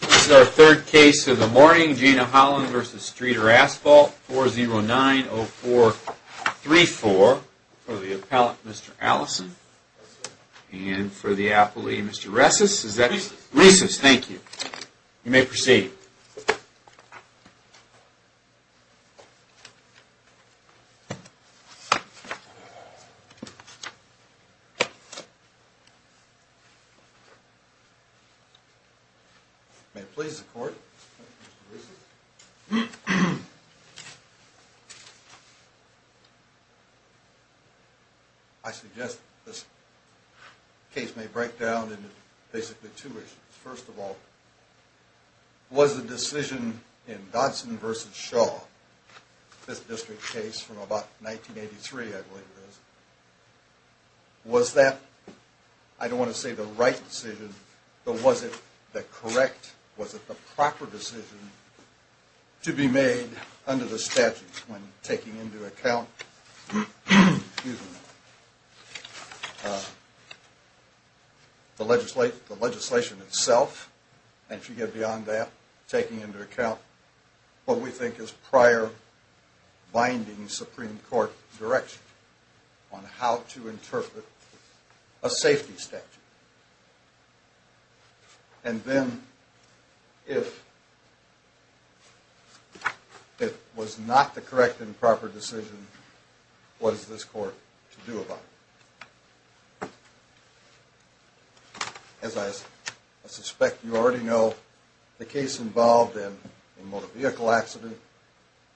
This is our third case of the morning, Gina Holland v. Streeter Asphalt, 4090434 for the appellate, Mr. Allison, and for the appellee, Mr. Resses, is that you? Resses, thank you. You may proceed. May it please the court, Mr. Resses. I suggest this case may break down into basically two issues. First of all, was the decision in Dotson v. Shaw, this district case from about 1983, I believe it is, was that, I don't want to say the right decision, but was it the correct, was it the proper decision to be made under the statute when taking into account the legislation itself, and if you get beyond that, taking into account what we think is prior binding Supreme Court direction on how to interpret a safety statute? And then, if it was not the correct and proper decision, what is this court to do about it? As I suspect you already know, the case involved in a motor vehicle accident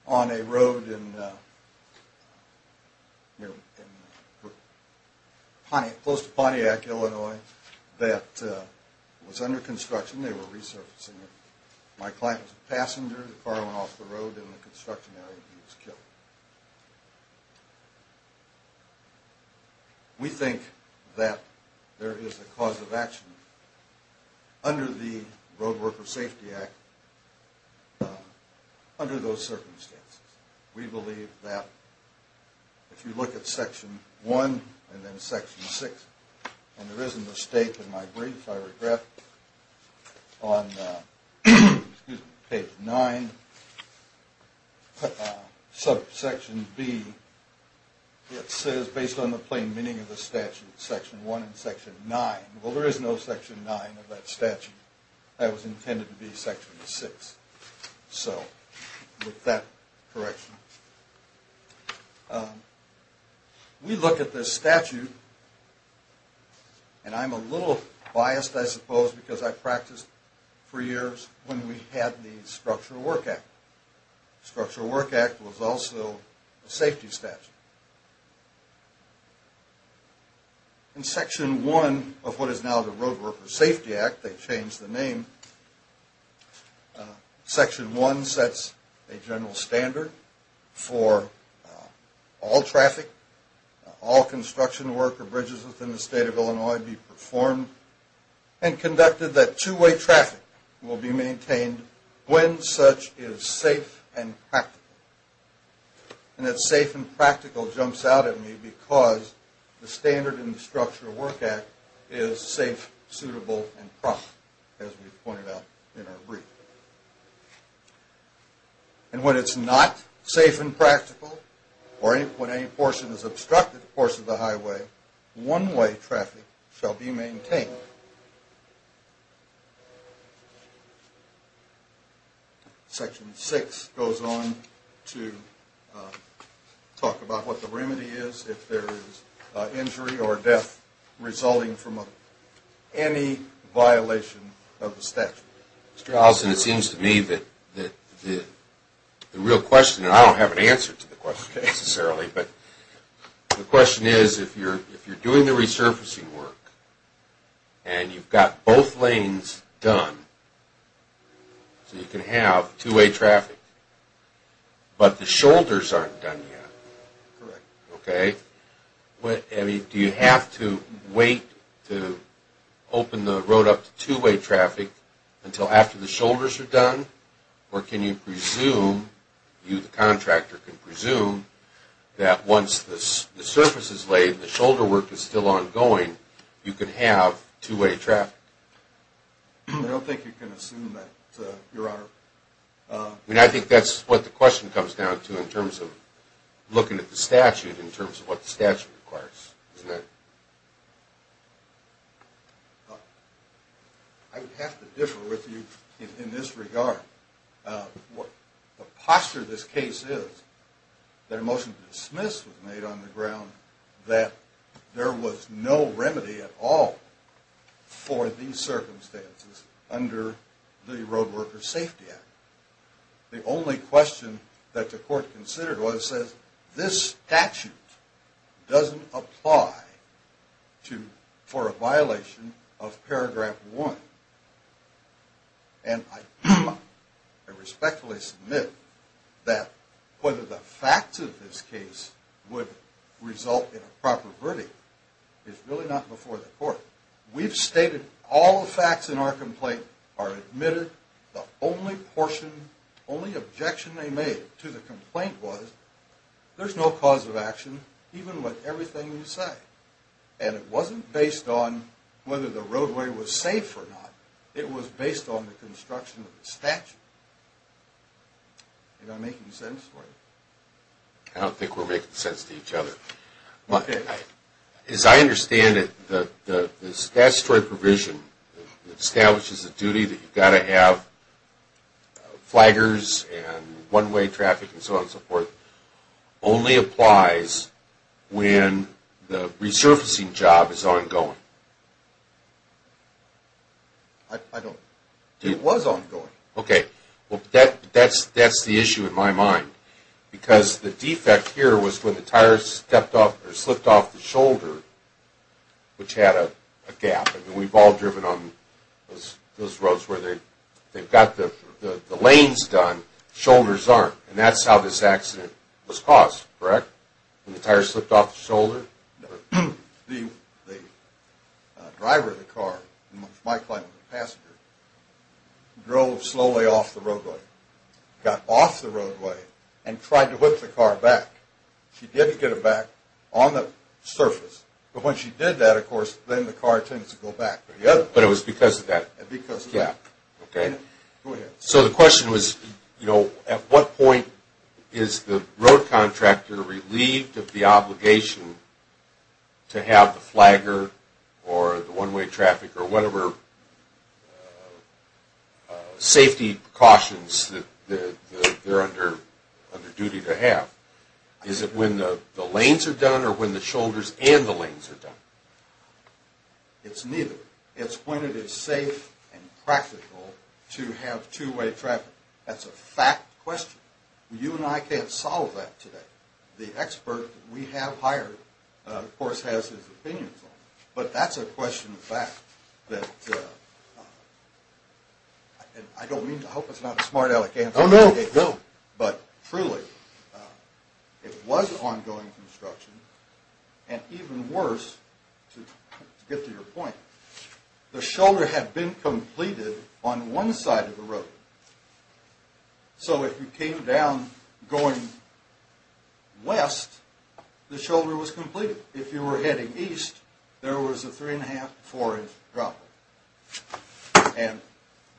on a road close to Pontiac, Illinois, that was under construction, they were resurfacing it. My client was a passenger, the car went off the road in the construction area and he was killed. We think that there is a cause of action under the Road Worker Safety Act under those circumstances. We believe that if you look at Section 1 and then Section 6, and there isn't a state in my brief, I regret, on page 9, subject to the statute. If you look at Section B, it says, based on the plain meaning of the statute, Section 1 and Section 9. Well, there is no Section 9 of that statute. That was intended to be Section 6. So, with that correction. We look at this statute, and I'm a little biased, I suppose, because I practiced for years when we had the Structural Work Act. The Structural Work Act was also a safety statute. In Section 1 of what is now the Road Worker Safety Act, they changed the name. Section 1 sets a general standard for all traffic, all construction work or bridges within the state of Illinois be performed and conducted that two-way traffic will be maintained when such is safe and practical. And that safe and practical jumps out at me because the standard in the Structural Work Act is safe, suitable, and proper, as we pointed out in our brief. And when it's not safe and practical, or when any portion is obstructed the course of the highway, one-way traffic shall be maintained. Section 6 goes on to talk about what the remedy is if there is injury or death resulting from any violation of the statute. Mr. Allison, it seems to me that the real question, and I don't have an answer to the question necessarily, but the question is if you're doing the resurfacing work, and you've got both lanes done, so you can have two-way traffic, but the shoulders aren't done yet. Correct. Okay. Do you have to wait to open the road up to two-way traffic until after the shoulders are done, or can you presume, you the contractor can presume, that once the surface is laid, the shoulder work is still ongoing, you can have two-way traffic? I don't think you can assume that, Your Honor. I mean, I think that's what the question comes down to in terms of looking at the statute in terms of what the statute requires, isn't it? I would have to differ with you in this regard. The posture of this case is that a motion to dismiss was made on the ground that there was no remedy at all for these circumstances under the Roadworker Safety Act. The only question that the court considered was, says, this statute doesn't apply for a violation of paragraph one. And I respectfully submit that whether the facts of this case would result in a proper verdict is really not before the court. We've stated all the facts in our complaint are admitted. The only portion, only objection they made to the complaint was, there's no cause of action, even with everything you say. And it wasn't based on whether the roadway was safe or not. It was based on the construction of the statute. Am I making sense for you? I don't think we're making sense to each other. As I understand it, the statutory provision that establishes the duty that you've got to have flaggers and one-way traffic and so on and so forth only applies when the resurfacing job is ongoing. I don't. It was ongoing. Okay. Well, that's the issue in my mind. Because the defect here was when the tires stepped off or slipped off the shoulder, which had a gap. And we've all driven on those roads where they've got the lanes done, shoulders aren't. And that's how this accident was caused, correct? When the tires slipped off the shoulder? The driver of the car, my client, the passenger, drove slowly off the roadway, got off the roadway, and tried to whip the car back. She did get it back on the surface. But when she did that, of course, then the car tends to go back. But it was because of that? Because of that. Okay. Go ahead. So the question was, you know, at what point is the road contractor relieved of the obligation to have the flagger or the one-way traffic or whatever safety precautions that they're under duty to have? Is it when the lanes are done or when the shoulders and the lanes are done? It's neither. It's when it is safe and practical to have two-way traffic. That's a fact question. You and I can't solve that today. The expert that we have hired, of course, has his opinions on it. But that's a question of fact. I don't mean to – I hope it's not a smart-aleck answer. And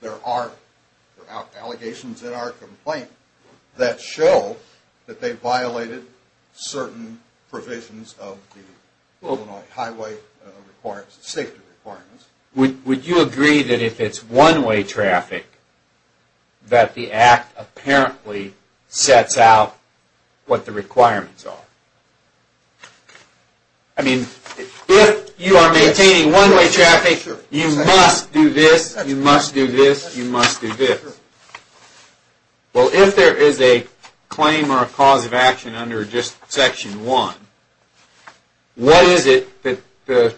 there are allegations in our complaint that show that they violated certain provisions of the Illinois Highway Safety Requirements. Would you agree that if it's one-way traffic that the Act apparently sets out what the requirements are? I mean, if you are maintaining one-way traffic, you must do this, you must do this, you must do this. Well, if there is a claim or a cause of action under just Section 1, what is it that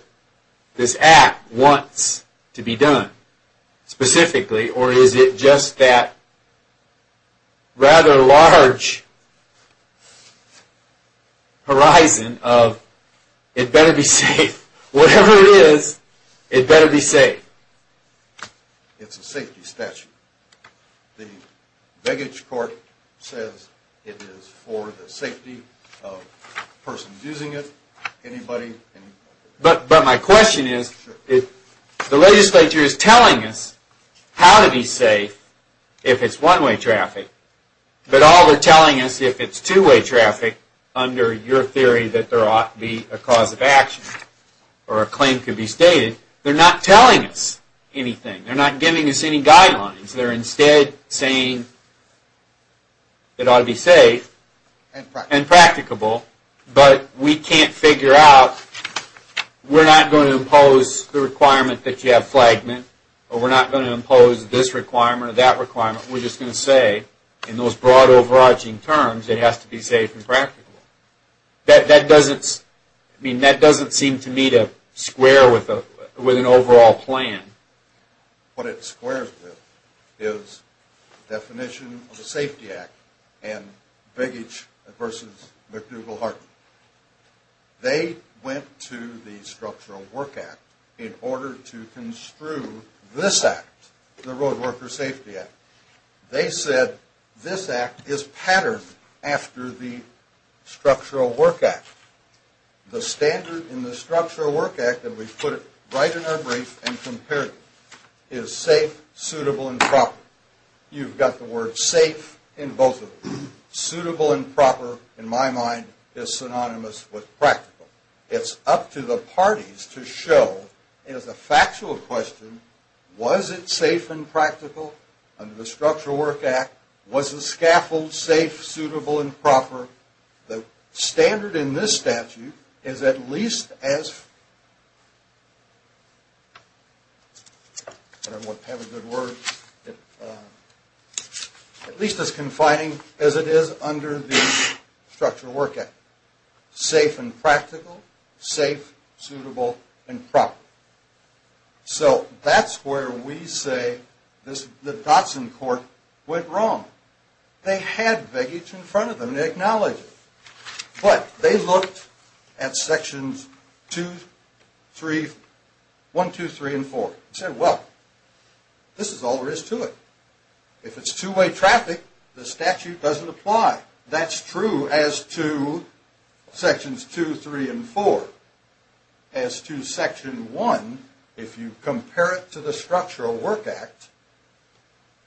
this Act wants to be done specifically? Or is it just that rather large horizon of it better be safe? Whatever it is, it better be safe. It's a safety statute. The baggage court says it is for the safety of the person using it. But my question is, if the legislature is telling us how to be safe if it's one-way traffic, but all they're telling us if it's two-way traffic under your theory that there ought to be a cause of action or a claim could be stated, they're not telling us anything. They're not giving us any guidelines. They're instead saying it ought to be safe and practicable, but we can't figure out, we're not going to impose the requirement that you have flagment or we're not going to impose this requirement or that requirement. We're just going to say, in those broad, overarching terms, it has to be safe and practicable. That doesn't seem to me to square with an overall plan. What it squares with is the definition of the Safety Act and baggage versus McDougall-Harton. They went to the Structural Work Act in order to construe this Act, the Roadworker Safety Act. They said this Act is patterned after the Structural Work Act. The standard in the Structural Work Act, and we've put it right in our brief and compared it, is safe, suitable, and proper. You've got the word safe in both of them. Suitable and proper, in my mind, is synonymous with practical. It's up to the parties to show, as a factual question, was it safe and practical under the Structural Work Act? Was the scaffold safe, suitable, and proper? The standard in this statute is at least as confining as it is under the Structural Work Act. Safe and practical, safe, suitable, and proper. So that's where we say the Dotson Court went wrong. They had baggage in front of them, they acknowledged it. But they looked at Sections 1, 2, 3, and 4 and said, well, this is all there is to it. If it's two-way traffic, the statute doesn't apply. That's true as to Sections 2, 3, and 4. As to Section 1, if you compare it to the Structural Work Act,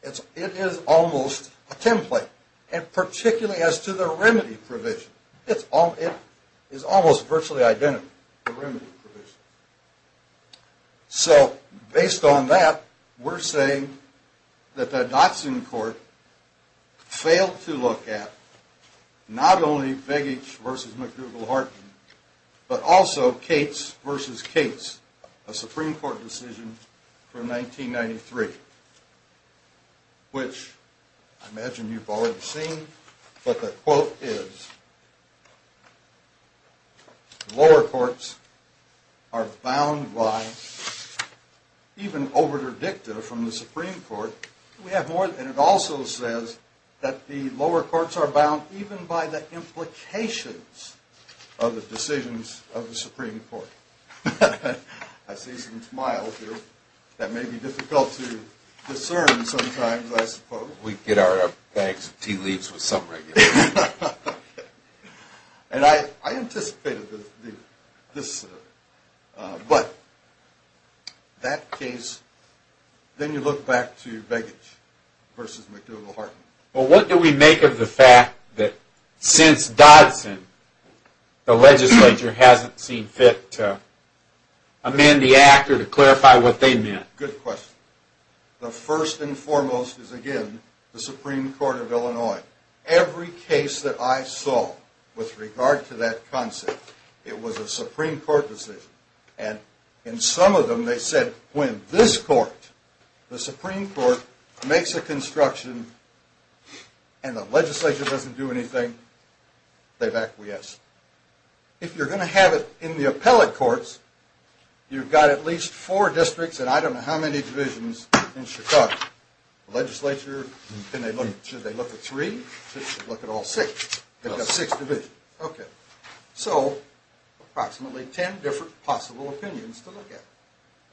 it is almost a template. And particularly as to the remedy provision. It is almost virtually identical, the remedy provision. So based on that, we're saying that the Dotson Court failed to look at not only Begich v. McDougall-Harton, but also Cates v. Cates, a Supreme Court decision from 1993, which I imagine you've already seen. But the quote is, lower courts are bound by, even over their dicta from the Supreme Court, and it also says that the lower courts are bound even by the implications of the decisions of the Supreme Court. I see some smiles here. That may be difficult to discern sometimes, I suppose. We get our bags of tea leaves with some regular tea. And I anticipated this, but that case, then you look back to Begich v. McDougall-Harton. Well, what do we make of the fact that since Dodson, the legislature hasn't seen fit to amend the act or to clarify what they meant? Good question. The first and foremost is, again, the Supreme Court of Illinois. Every case that I saw with regard to that concept, it was a Supreme Court decision. And in some of them, they said when this court, the Supreme Court, makes a construction and the legislature doesn't do anything, they've acquiesced. If you're going to have it in the appellate courts, you've got at least four districts and I don't know how many divisions in Chicago. The legislature, should they look at three? Should they look at all six? They've got six divisions. So, approximately ten different possible opinions to look at.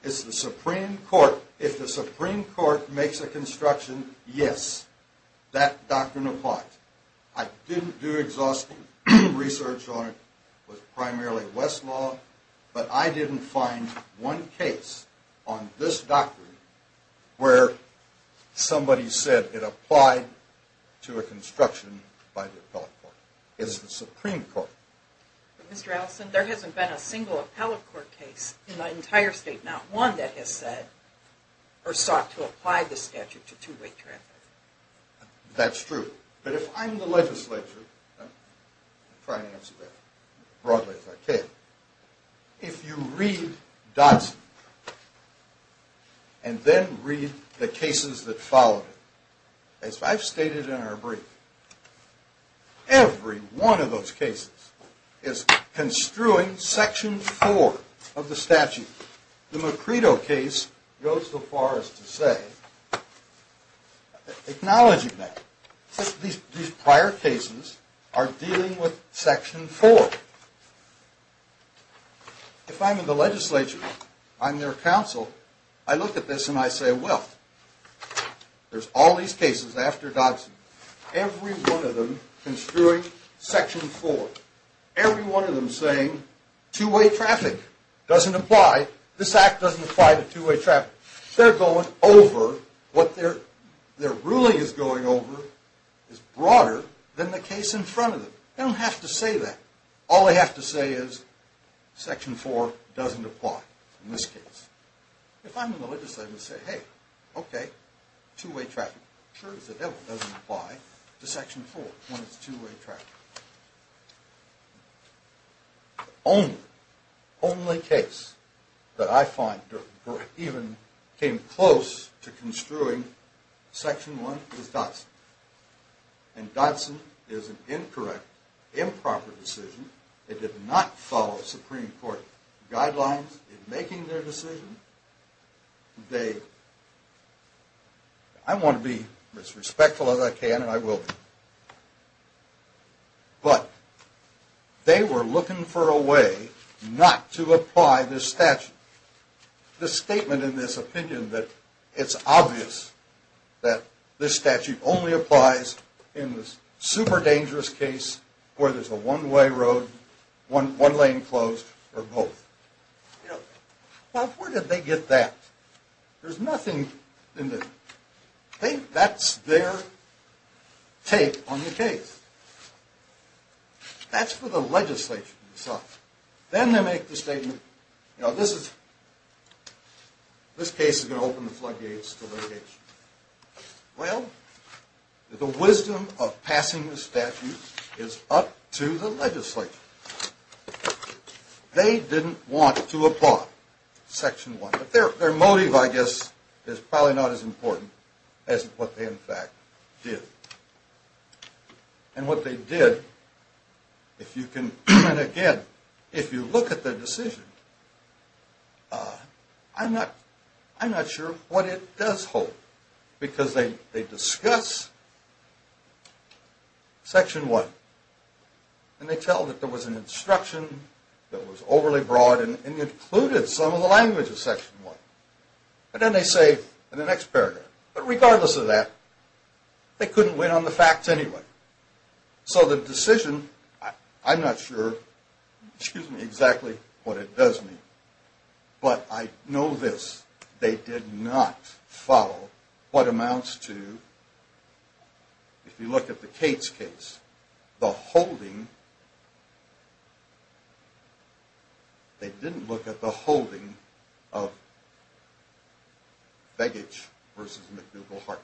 It's the Supreme Court. If the Supreme Court makes a construction, yes, that doctrine applies. I didn't do exhaustive research on it. It was primarily West law. But I didn't find one case on this doctrine where somebody said it applied to a construction by the appellate court. It's the Supreme Court. Mr. Allison, there hasn't been a single appellate court case in the entire state, not one, that has said or sought to apply the statute to two-way traffic. That's true. But if I'm the legislature, I'll try to answer that broadly if I can. If you read Dodson and then read the cases that followed it, as I've stated in our brief, every one of those cases is construing Section 4 of the statute. The Macredo case goes so far as to say, acknowledging that, these prior cases are dealing with Section 4. If I'm in the legislature, I'm their counsel, I look at this and I say, well, there's all these cases after Dodson. Every one of them construing Section 4. Every one of them saying two-way traffic doesn't apply. This act doesn't apply to two-way traffic. They're going over what their ruling is going over is broader than the case in front of them. They don't have to say that. All they have to say is Section 4 doesn't apply in this case. If I'm in the legislature, I'm going to say, hey, okay, two-way traffic. Sure as the devil, it doesn't apply to Section 4 when it's two-way traffic. The only case that I find that even came close to construing Section 1 is Dodson. And Dodson is an incorrect, improper decision. It did not follow Supreme Court guidelines in making their decision. I want to be as respectful as I can, and I will be. But they were looking for a way not to apply this statute. The statement in this opinion that it's obvious that this statute only applies in this super dangerous case where there's a one-way road, one lane closed, or both. Bob, where did they get that? There's nothing in there. I think that's their take on the case. That's for the legislation itself. Then they make the statement, you know, this case is going to open the floodgates to litigation. Well, the wisdom of passing the statute is up to the legislature. They didn't want to apply Section 1. Their motive, I guess, is probably not as important as what they in fact did. And what they did, and again, if you look at the decision, I'm not sure what it does hold. Because they discuss Section 1, and they tell that there was an instruction that was overly broad and included some of the language of Section 1. And then they say in the next paragraph, but regardless of that, they couldn't win on the facts anyway. So the decision, I'm not sure, excuse me, exactly what it does mean. But I know this, they did not follow what amounts to, if you look at the Cates case, they didn't look at the holding of Veggage v. McDougall-Hartman.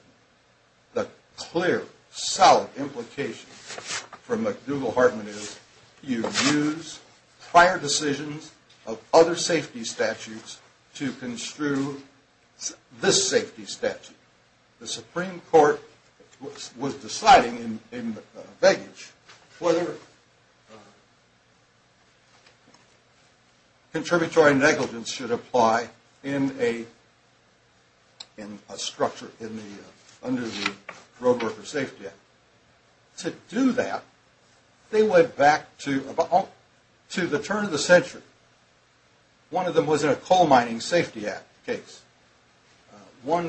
The clear, solid implication for McDougall-Hartman is you use prior decisions of other safety statutes to construe this safety statute. The Supreme Court was deciding in Veggage whether contributory negligence should apply in a structure under the Roadworker Safety Act. To do that, they went back to the turn of the century. One of them was in a coal mining safety act case. One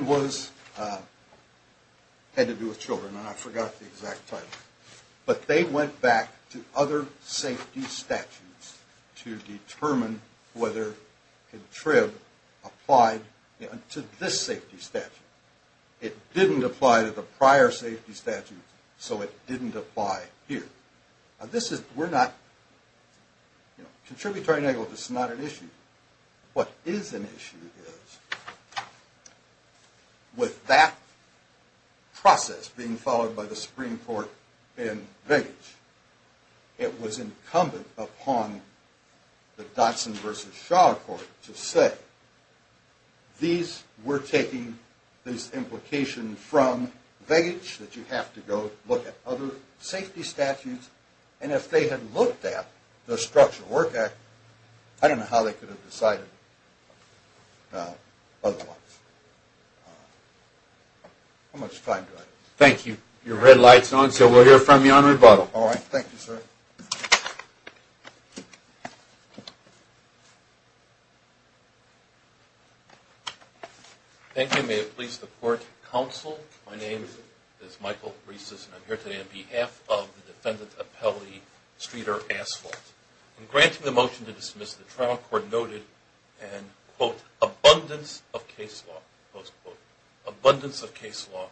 had to do with children, and I forgot the exact title. But they went back to other safety statutes to determine whether contrib applied to this safety statute. It didn't apply to the prior safety statute, so it didn't apply here. Now this is, we're not, you know, contributory negligence is not an issue. What is an issue is, with that process being followed by the Supreme Court in Veggage, it was incumbent upon the Dodson v. Shaw court to say, these, we're taking this implication from Veggage that you have to go look at other safety statutes, and if they had looked at the Structure Work Act, I don't know how they could have decided otherwise. How much time do I have? Thank you. Your red light is on, so we'll hear from you on rebuttal. All right. Thank you, sir. Thank you. May it please the court, counsel. My name is Michael Rieses, and I'm here today on behalf of the defendant, Apelli Streeter Asphalt. In granting the motion to dismiss, the trial court noted an, quote, abundance of case law, close quote, abundance of case law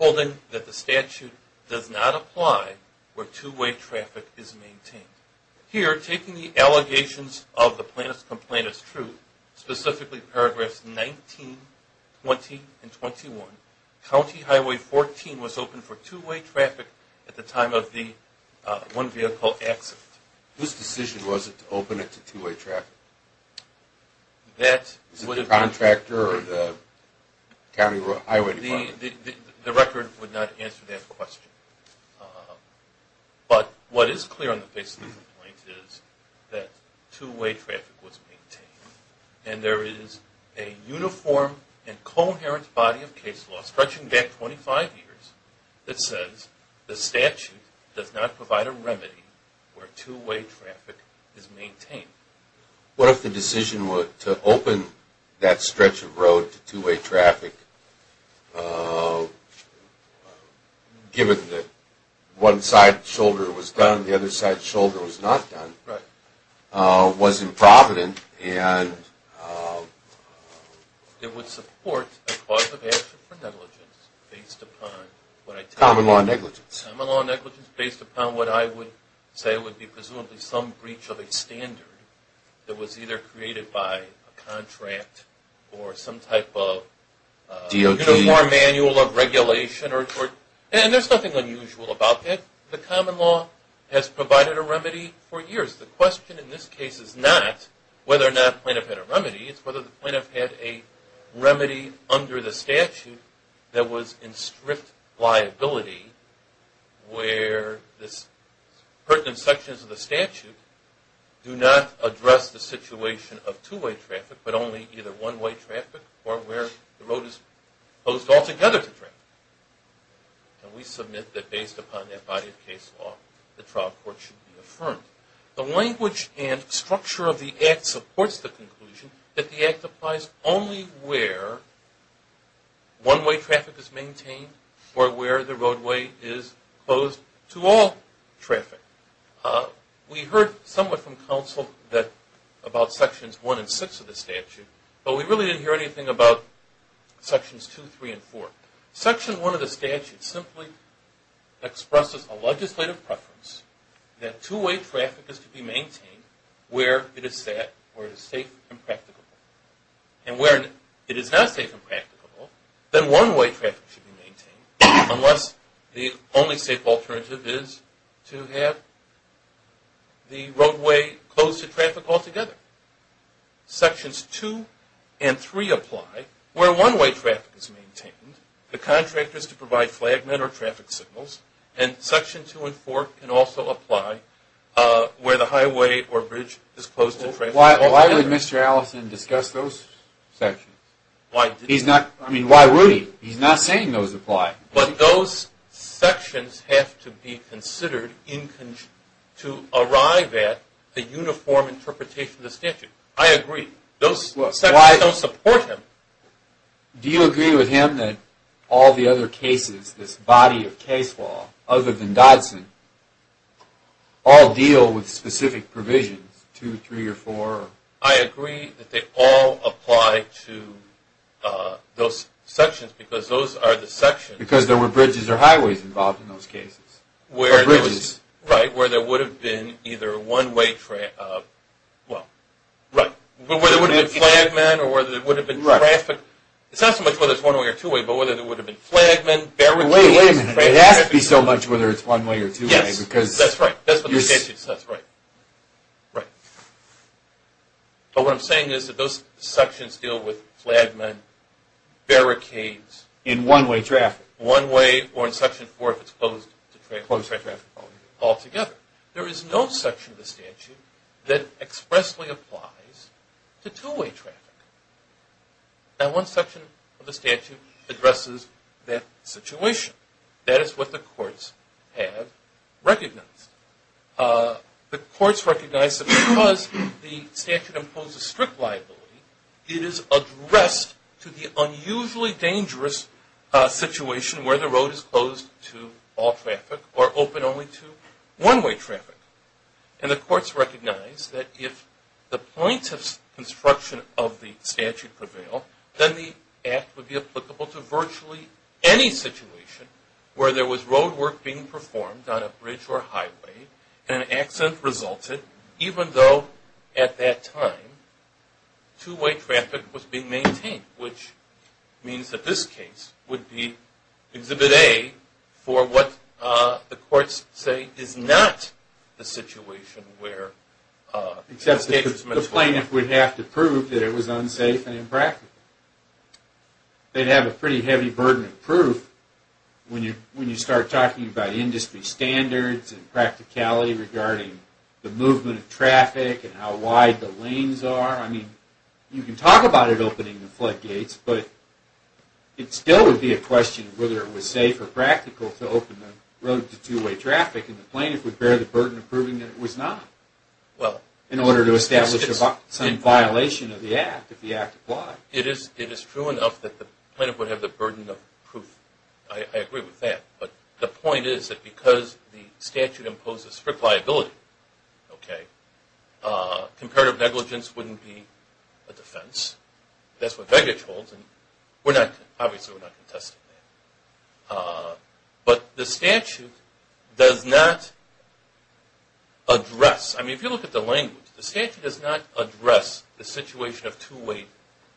holding that the statute does not apply where two-way traffic is maintained. Here, taking the allegations of the plaintiff's complaint as true, specifically paragraphs 19, 20, and 21, County Highway 14 was open for two-way traffic at the time of the one-vehicle accident. Whose decision was it to open it to two-way traffic? Is it the contractor or the county highway department? The record would not answer that question. But what is clear on the basis of the complaint is that two-way traffic was maintained, and there is a uniform and coherent body of case law stretching back 25 years that says the statute does not provide a remedy where two-way traffic is maintained. What if the decision to open that stretch of road to two-way traffic, given that one side's shoulder was done, the other side's shoulder was not done, was improvident and... It would support a cause of action for negligence based upon what I... Common law negligence. That was either created by a contract or some type of uniform manual of regulation or... And there's nothing unusual about that. The common law has provided a remedy for years. The question in this case is not whether or not the plaintiff had a remedy. It's whether the plaintiff had a remedy under the statute that was in strict liability where this pertinent sections of the statute do not address the situation of two-way traffic, but only either one-way traffic or where the road is closed altogether to traffic. And we submit that based upon that body of case law, the trial court should be affirmed. The language and structure of the Act supports the conclusion that the Act applies only where one-way traffic is maintained or where the roadway is closed to all traffic. We heard somewhat from counsel about Sections 1 and 6 of the statute, but we really didn't hear anything about Sections 2, 3, and 4. Section 1 of the statute simply expresses a legislative preference that two-way traffic is to be maintained where it is safe and practicable. And where it is not safe and practicable, then one-way traffic should be maintained unless the only safe alternative is to have the roadway closed to traffic altogether. Sections 2 and 3 apply where one-way traffic is maintained, the contractors to provide flagment or traffic signals, and Section 2 and 4 can also apply where the highway or bridge is closed to traffic. Why would Mr. Allison discuss those sections? I mean, why would he? He's not saying those apply. But those sections have to be considered to arrive at a uniform interpretation of the statute. I agree. Those sections don't support them. Do you agree with him that all the other cases, this body of case law, other than Dodson, all deal with specific provisions, 2, 3, or 4? I agree that they all apply to those sections because those are the sections. Because there were bridges or highways involved in those cases. Bridges. Right, where there would have been either one-way, well, right. Where there would have been flagmen or where there would have been traffic. It's not so much whether it's one-way or two-way, but whether there would have been flagmen, barricades. Wait a minute. It has to be so much whether it's one-way or two-way. Yes, that's right. That's what the statute says, right. But what I'm saying is that those sections deal with flagmen, barricades. In one-way traffic. One-way or in Section 4 if it's closed to traffic. Closed to traffic. Altogether. There is no section of the statute that expressly applies to two-way traffic. Now one section of the statute addresses that situation. That is what the courts have recognized. The courts recognize that because the statute imposes strict liability, it is addressed to the unusually dangerous situation where the road is closed to all traffic or open only to one-way traffic. And the courts recognize that if the points of construction of the statute prevail, then the act would be applicable to virtually any situation where there was road work being performed on a bridge or highway and an accident resulted even though at that time two-way traffic was being maintained, which means that this case would be Exhibit A for what the courts say is not the situation where... Except the plaintiff would have to prove that it was unsafe and impractical. They'd have a pretty heavy burden of proof when you start talking about industry standards and practicality regarding the movement of traffic and how wide the lanes are. I mean, you can talk about it opening the floodgates, but it still would be a question of whether it was safe or practical to open the road to two-way traffic and the plaintiff would bear the burden of proving that it was not in order to establish some violation of the act, if the act applied. It is true enough that the plaintiff would have the burden of proof. I agree with that. But the point is that because the statute imposes strict liability, comparative negligence wouldn't be a defense. That's what Vegich holds and obviously we're not contesting that. But the statute does not address... I mean, if you look at the language, the statute does not address the situation of two-way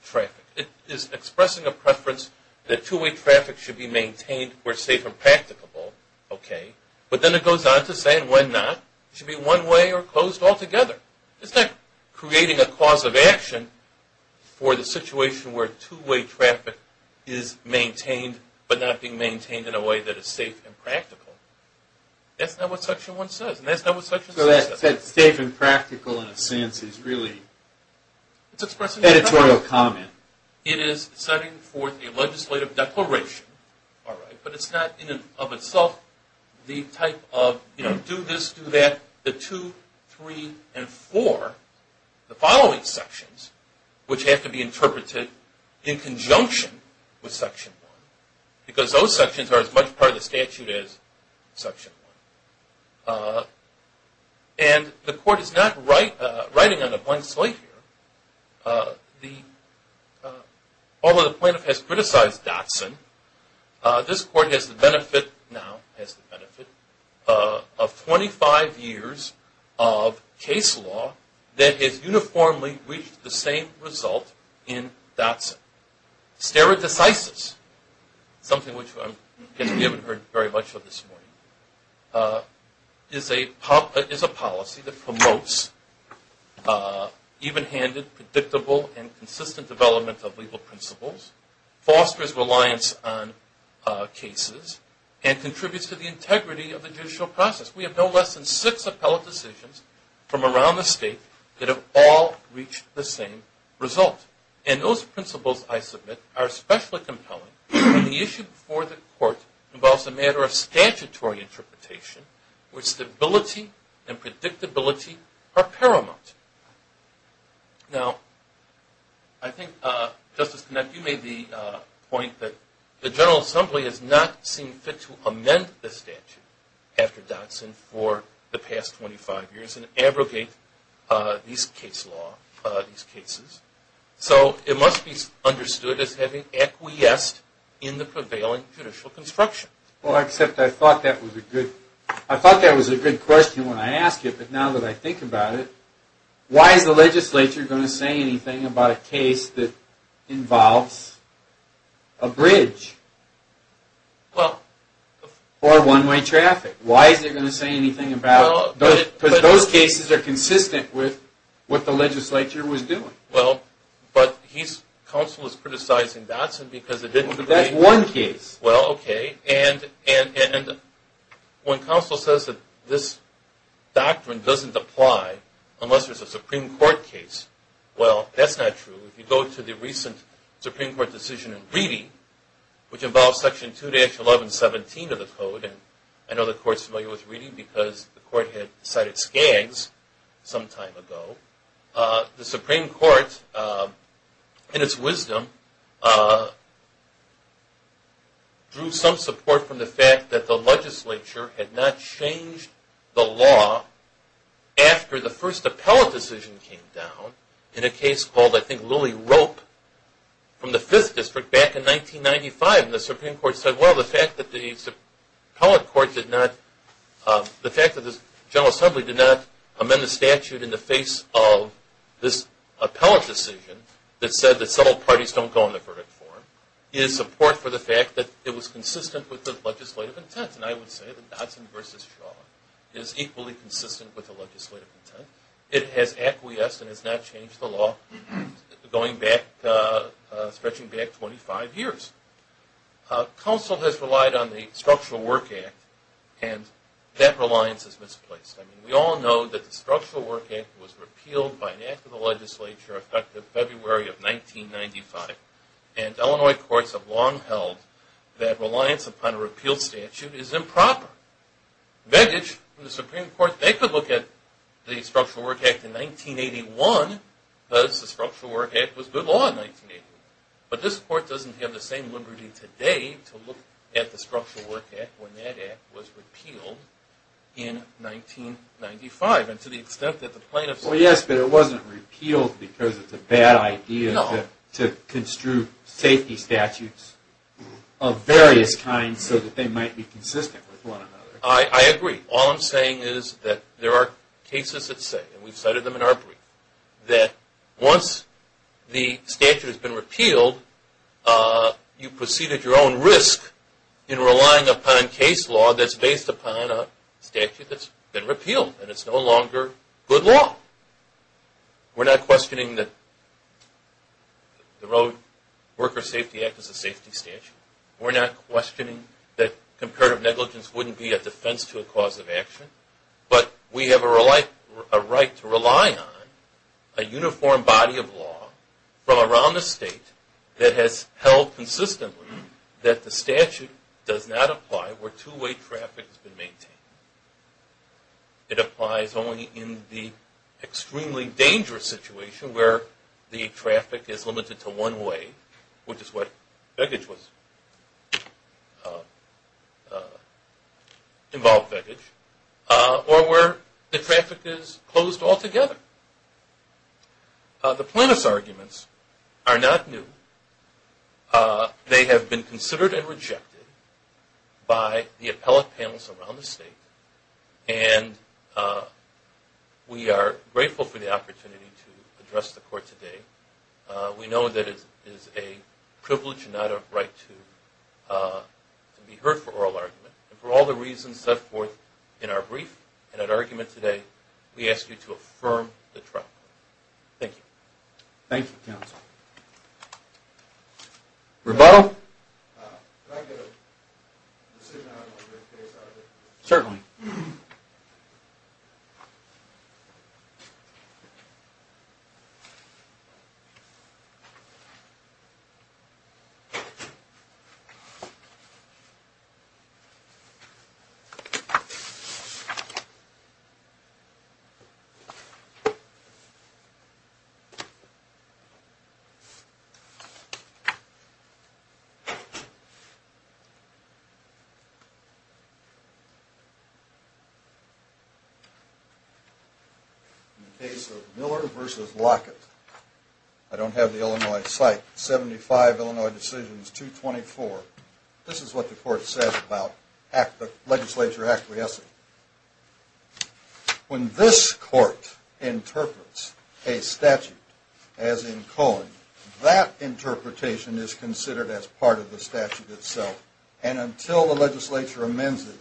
traffic. It is expressing a preference that two-way traffic should be maintained where safe and practicable, but then it goes on to say when not it should be one-way or closed altogether. It's not creating a cause of action for the situation where two-way traffic is maintained but not being maintained in a way that is safe and practical. That's not what Section 1 says and that's not what Section 6 says. So that safe and practical in a sense is really an editorial comment. It is setting forth a legislative declaration, but it's not in and of itself the type of do this, do that. The two, three, and four, the following sections, which have to be interpreted in conjunction with Section 1 because those sections are as much part of the statute as Section 1. And the court is not writing on a blank slate here. Although the plaintiff has criticized Dotson, this court has the benefit now of 25 years of case law that has uniformly reached the same result in Dotson. Stereo-decisis, something which we haven't heard very much of this morning, is a policy that promotes even-handed, predictable, and consistent development of legal principles, fosters reliance on cases, and contributes to the integrity of the judicial process. We have no less than six appellate decisions from around the state that have all reached the same result. And those principles, I submit, are especially compelling when the issue before the court involves a matter of statutory interpretation where stability and predictability are paramount. Now, I think, Justice Knapp, you made the point that the General Assembly has not seen fit to amend the statute after Dotson for the past 25 years and abrogate these cases. So, it must be understood as having acquiesced in the prevailing judicial construction. Well, except I thought that was a good question when I asked it, but now that I think about it, why is the legislature going to say anything about a case that involves a bridge or one-way traffic? Why is it going to say anything about... because those cases are consistent with what the legislature was doing. Well, but he's... counsel is criticizing Dotson because it didn't create... That's one case. Well, okay. And when counsel says that this doctrine doesn't apply unless there's a Supreme Court case, well, that's not true. If you go to the recent Supreme Court decision in Reedy, which involves section 2-1117 of the code, and I know the court's familiar with Reedy because the court had decided Skaggs some time ago, the Supreme Court, in its wisdom, drew some support from the fact that the legislature had not changed the law after the first appellate decision came down in a case called, I think, Lily Rope from the 5th District back in 1995. And the Supreme Court said, well, the fact that the appellate court did not... the fact that the General Assembly did not amend the statute in the face of this appellate decision that said that several parties don't go on the verdict form is support for the fact that it was consistent with the legislative intent. And I would say that Dotson v. Shaw is equally consistent with the legislative intent. It has acquiesced and has not changed the law going back... stretching back 25 years. Council has relied on the Structural Work Act, and that reliance is misplaced. I mean, we all know that the Structural Work Act was repealed by an act of the legislature effective February of 1995, and Illinois courts have long held that reliance upon a repealed statute is improper. Vedic from the Supreme Court, they could look at the Structural Work Act in 1981 because the Structural Work Act was good law in 1981. But this court doesn't have the same liberty today to look at the Structural Work Act when that act was repealed in 1995. And to the extent that the plaintiffs... Well, yes, but it wasn't repealed because it's a bad idea to construe safety statutes of various kinds so that they might be consistent with one another. I agree. All I'm saying is that there are cases that say, and we've cited them in our brief, that once the statute has been repealed, you've proceeded your own risk in relying upon case law that's based upon a statute that's been repealed, and it's no longer good law. We're not questioning that the Road Worker Safety Act is a safety statute. We're not questioning that comparative negligence wouldn't be a defense to a cause of action. But we have a right to rely on a uniform body of law from around the state that has held consistently that the statute does not apply where two-way traffic has been maintained. It applies only in the extremely dangerous situation where the traffic is limited to one way, which is what baggage was...involved baggage, or where the traffic is closed altogether. The plaintiff's arguments are not new. They have been considered and rejected by the appellate panels around the state, and we are grateful for the opportunity to address the Court today. We know that it is a privilege and not a right to be heard for oral argument. And for all the reasons set forth in our brief and at argument today, we ask you to affirm the trial. Thank you. Thank you, counsel. Rebuttal? Can I get a decision item on this case? Certainly. In the case of Miller v. Lockett, I don't have the Illinois site, 75 Illinois Decisions 224. This is what the Court said about the legislature acquiescing. When this Court interprets a statute as in Cohen, that interpretation is considered as part of the statute itself, and until the legislature amends it,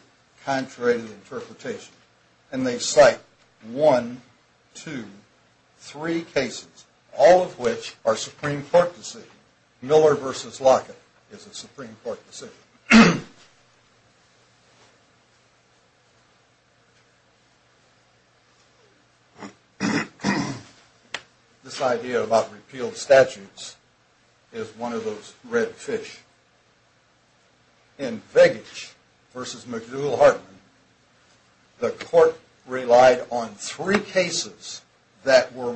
contrary to the interpretation. And they cite one, two, three cases, all of which are Supreme Court decisions. Miller v. Lockett is a Supreme Court decision. This idea about repealed statutes is one of those red fish. In Vegich v. McDougall-Hartman, the Court relied on three cases that were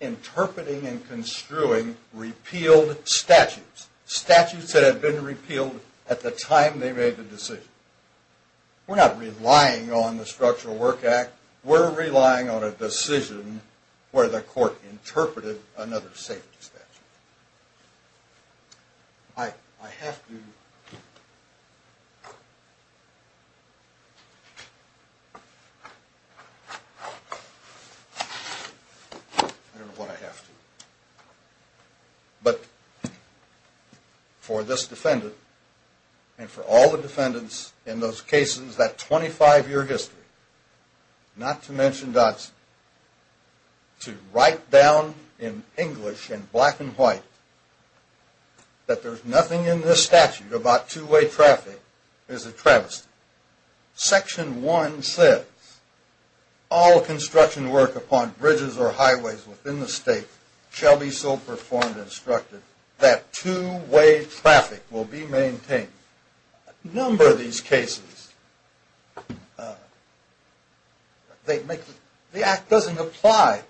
interpreting and construing repealed statutes. Statutes that had been repealed at the time they made the decision. We're not relying on the Structural Work Act. We're relying on a decision where the Court interpreted another safety statute. I don't know why I have to. But for this defendant and for all the defendants in those cases, that 25-year history, not to mention Dodson, to write down in English in black and white that there's nothing in this statute about two-way traffic is a travesty. Section 1 says, All construction work upon bridges or highways within the state shall be so performed and instructed that two-way traffic will be maintained. A number of these cases, the Act doesn't apply.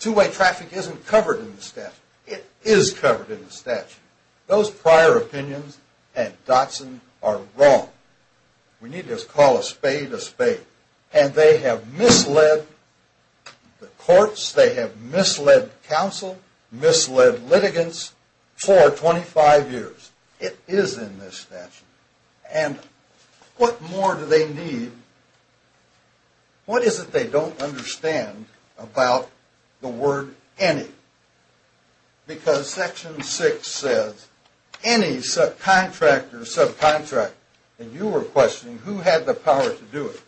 Two-way traffic isn't covered in the statute. It is covered in the statute. Those prior opinions at Dodson are wrong. We need to call a spade a spade. And they have misled the courts, they have misled counsel, misled litigants for 25 years. It is in this statute. And what more do they need? What is it they don't understand about the word any? Because Section 6 says, Any subcontractor or subcontractor, and you were questioning who had the power to do it,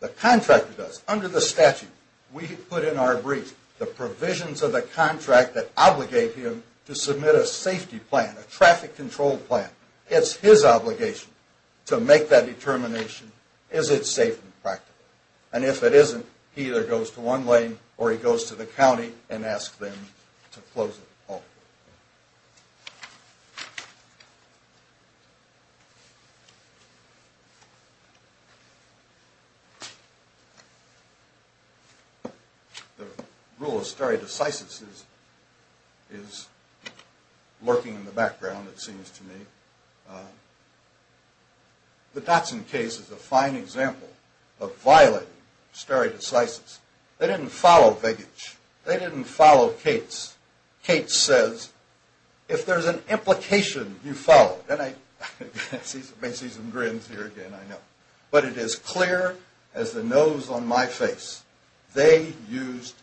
the contractor does. Under the statute, we put in our brief the provisions of the contract that obligate him to submit a safety plan, a traffic control plan. It's his obligation to make that determination. Is it safe in practice? And if it isn't, he either goes to one lane or he goes to the county and asks them to close it altogether. The rule of stare decisis is lurking in the background, it seems to me. The Dodson case is a fine example of violating stare decisis. They didn't follow Vigage. They didn't follow Cates. Cates says, if there's an implication, you follow it. And I may see some grins here again, I know. But it is clear as the nose on my face, they used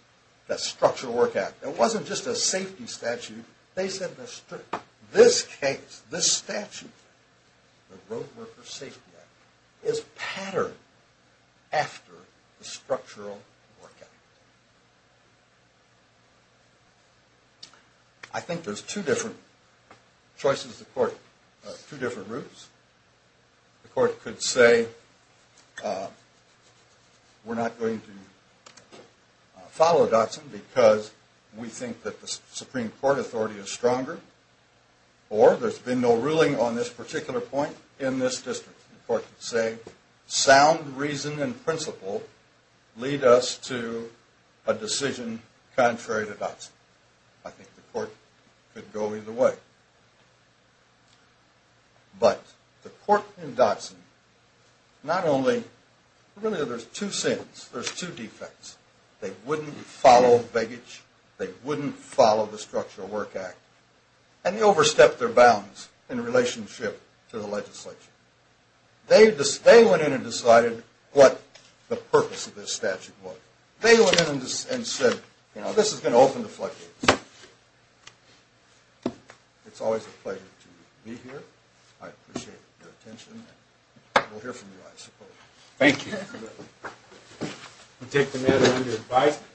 the Structural Work Act. It wasn't just a safety statute. They said this case, this statute, the Roadworker Safety Act, is patterned after the Structural Work Act. I think there's two different choices the court, two different routes. The court could say we're not going to follow Dodson because we think that the Supreme Court authority is stronger or there's been no ruling on this particular point in this district. The court could say sound reason and principle lead us to a decision contrary to Dodson. I think the court could go either way. But the court in Dodson, not only, really there's two sins, there's two defects. They wouldn't follow Vigage. They wouldn't follow the Structural Work Act. And they overstepped their bounds in relationship to the legislature. They went in and decided what the purpose of this statute was. They went in and said this is going to open the floodgates. It's always a pleasure to be here. I appreciate your attention. We'll hear from you, I suppose. Thank you.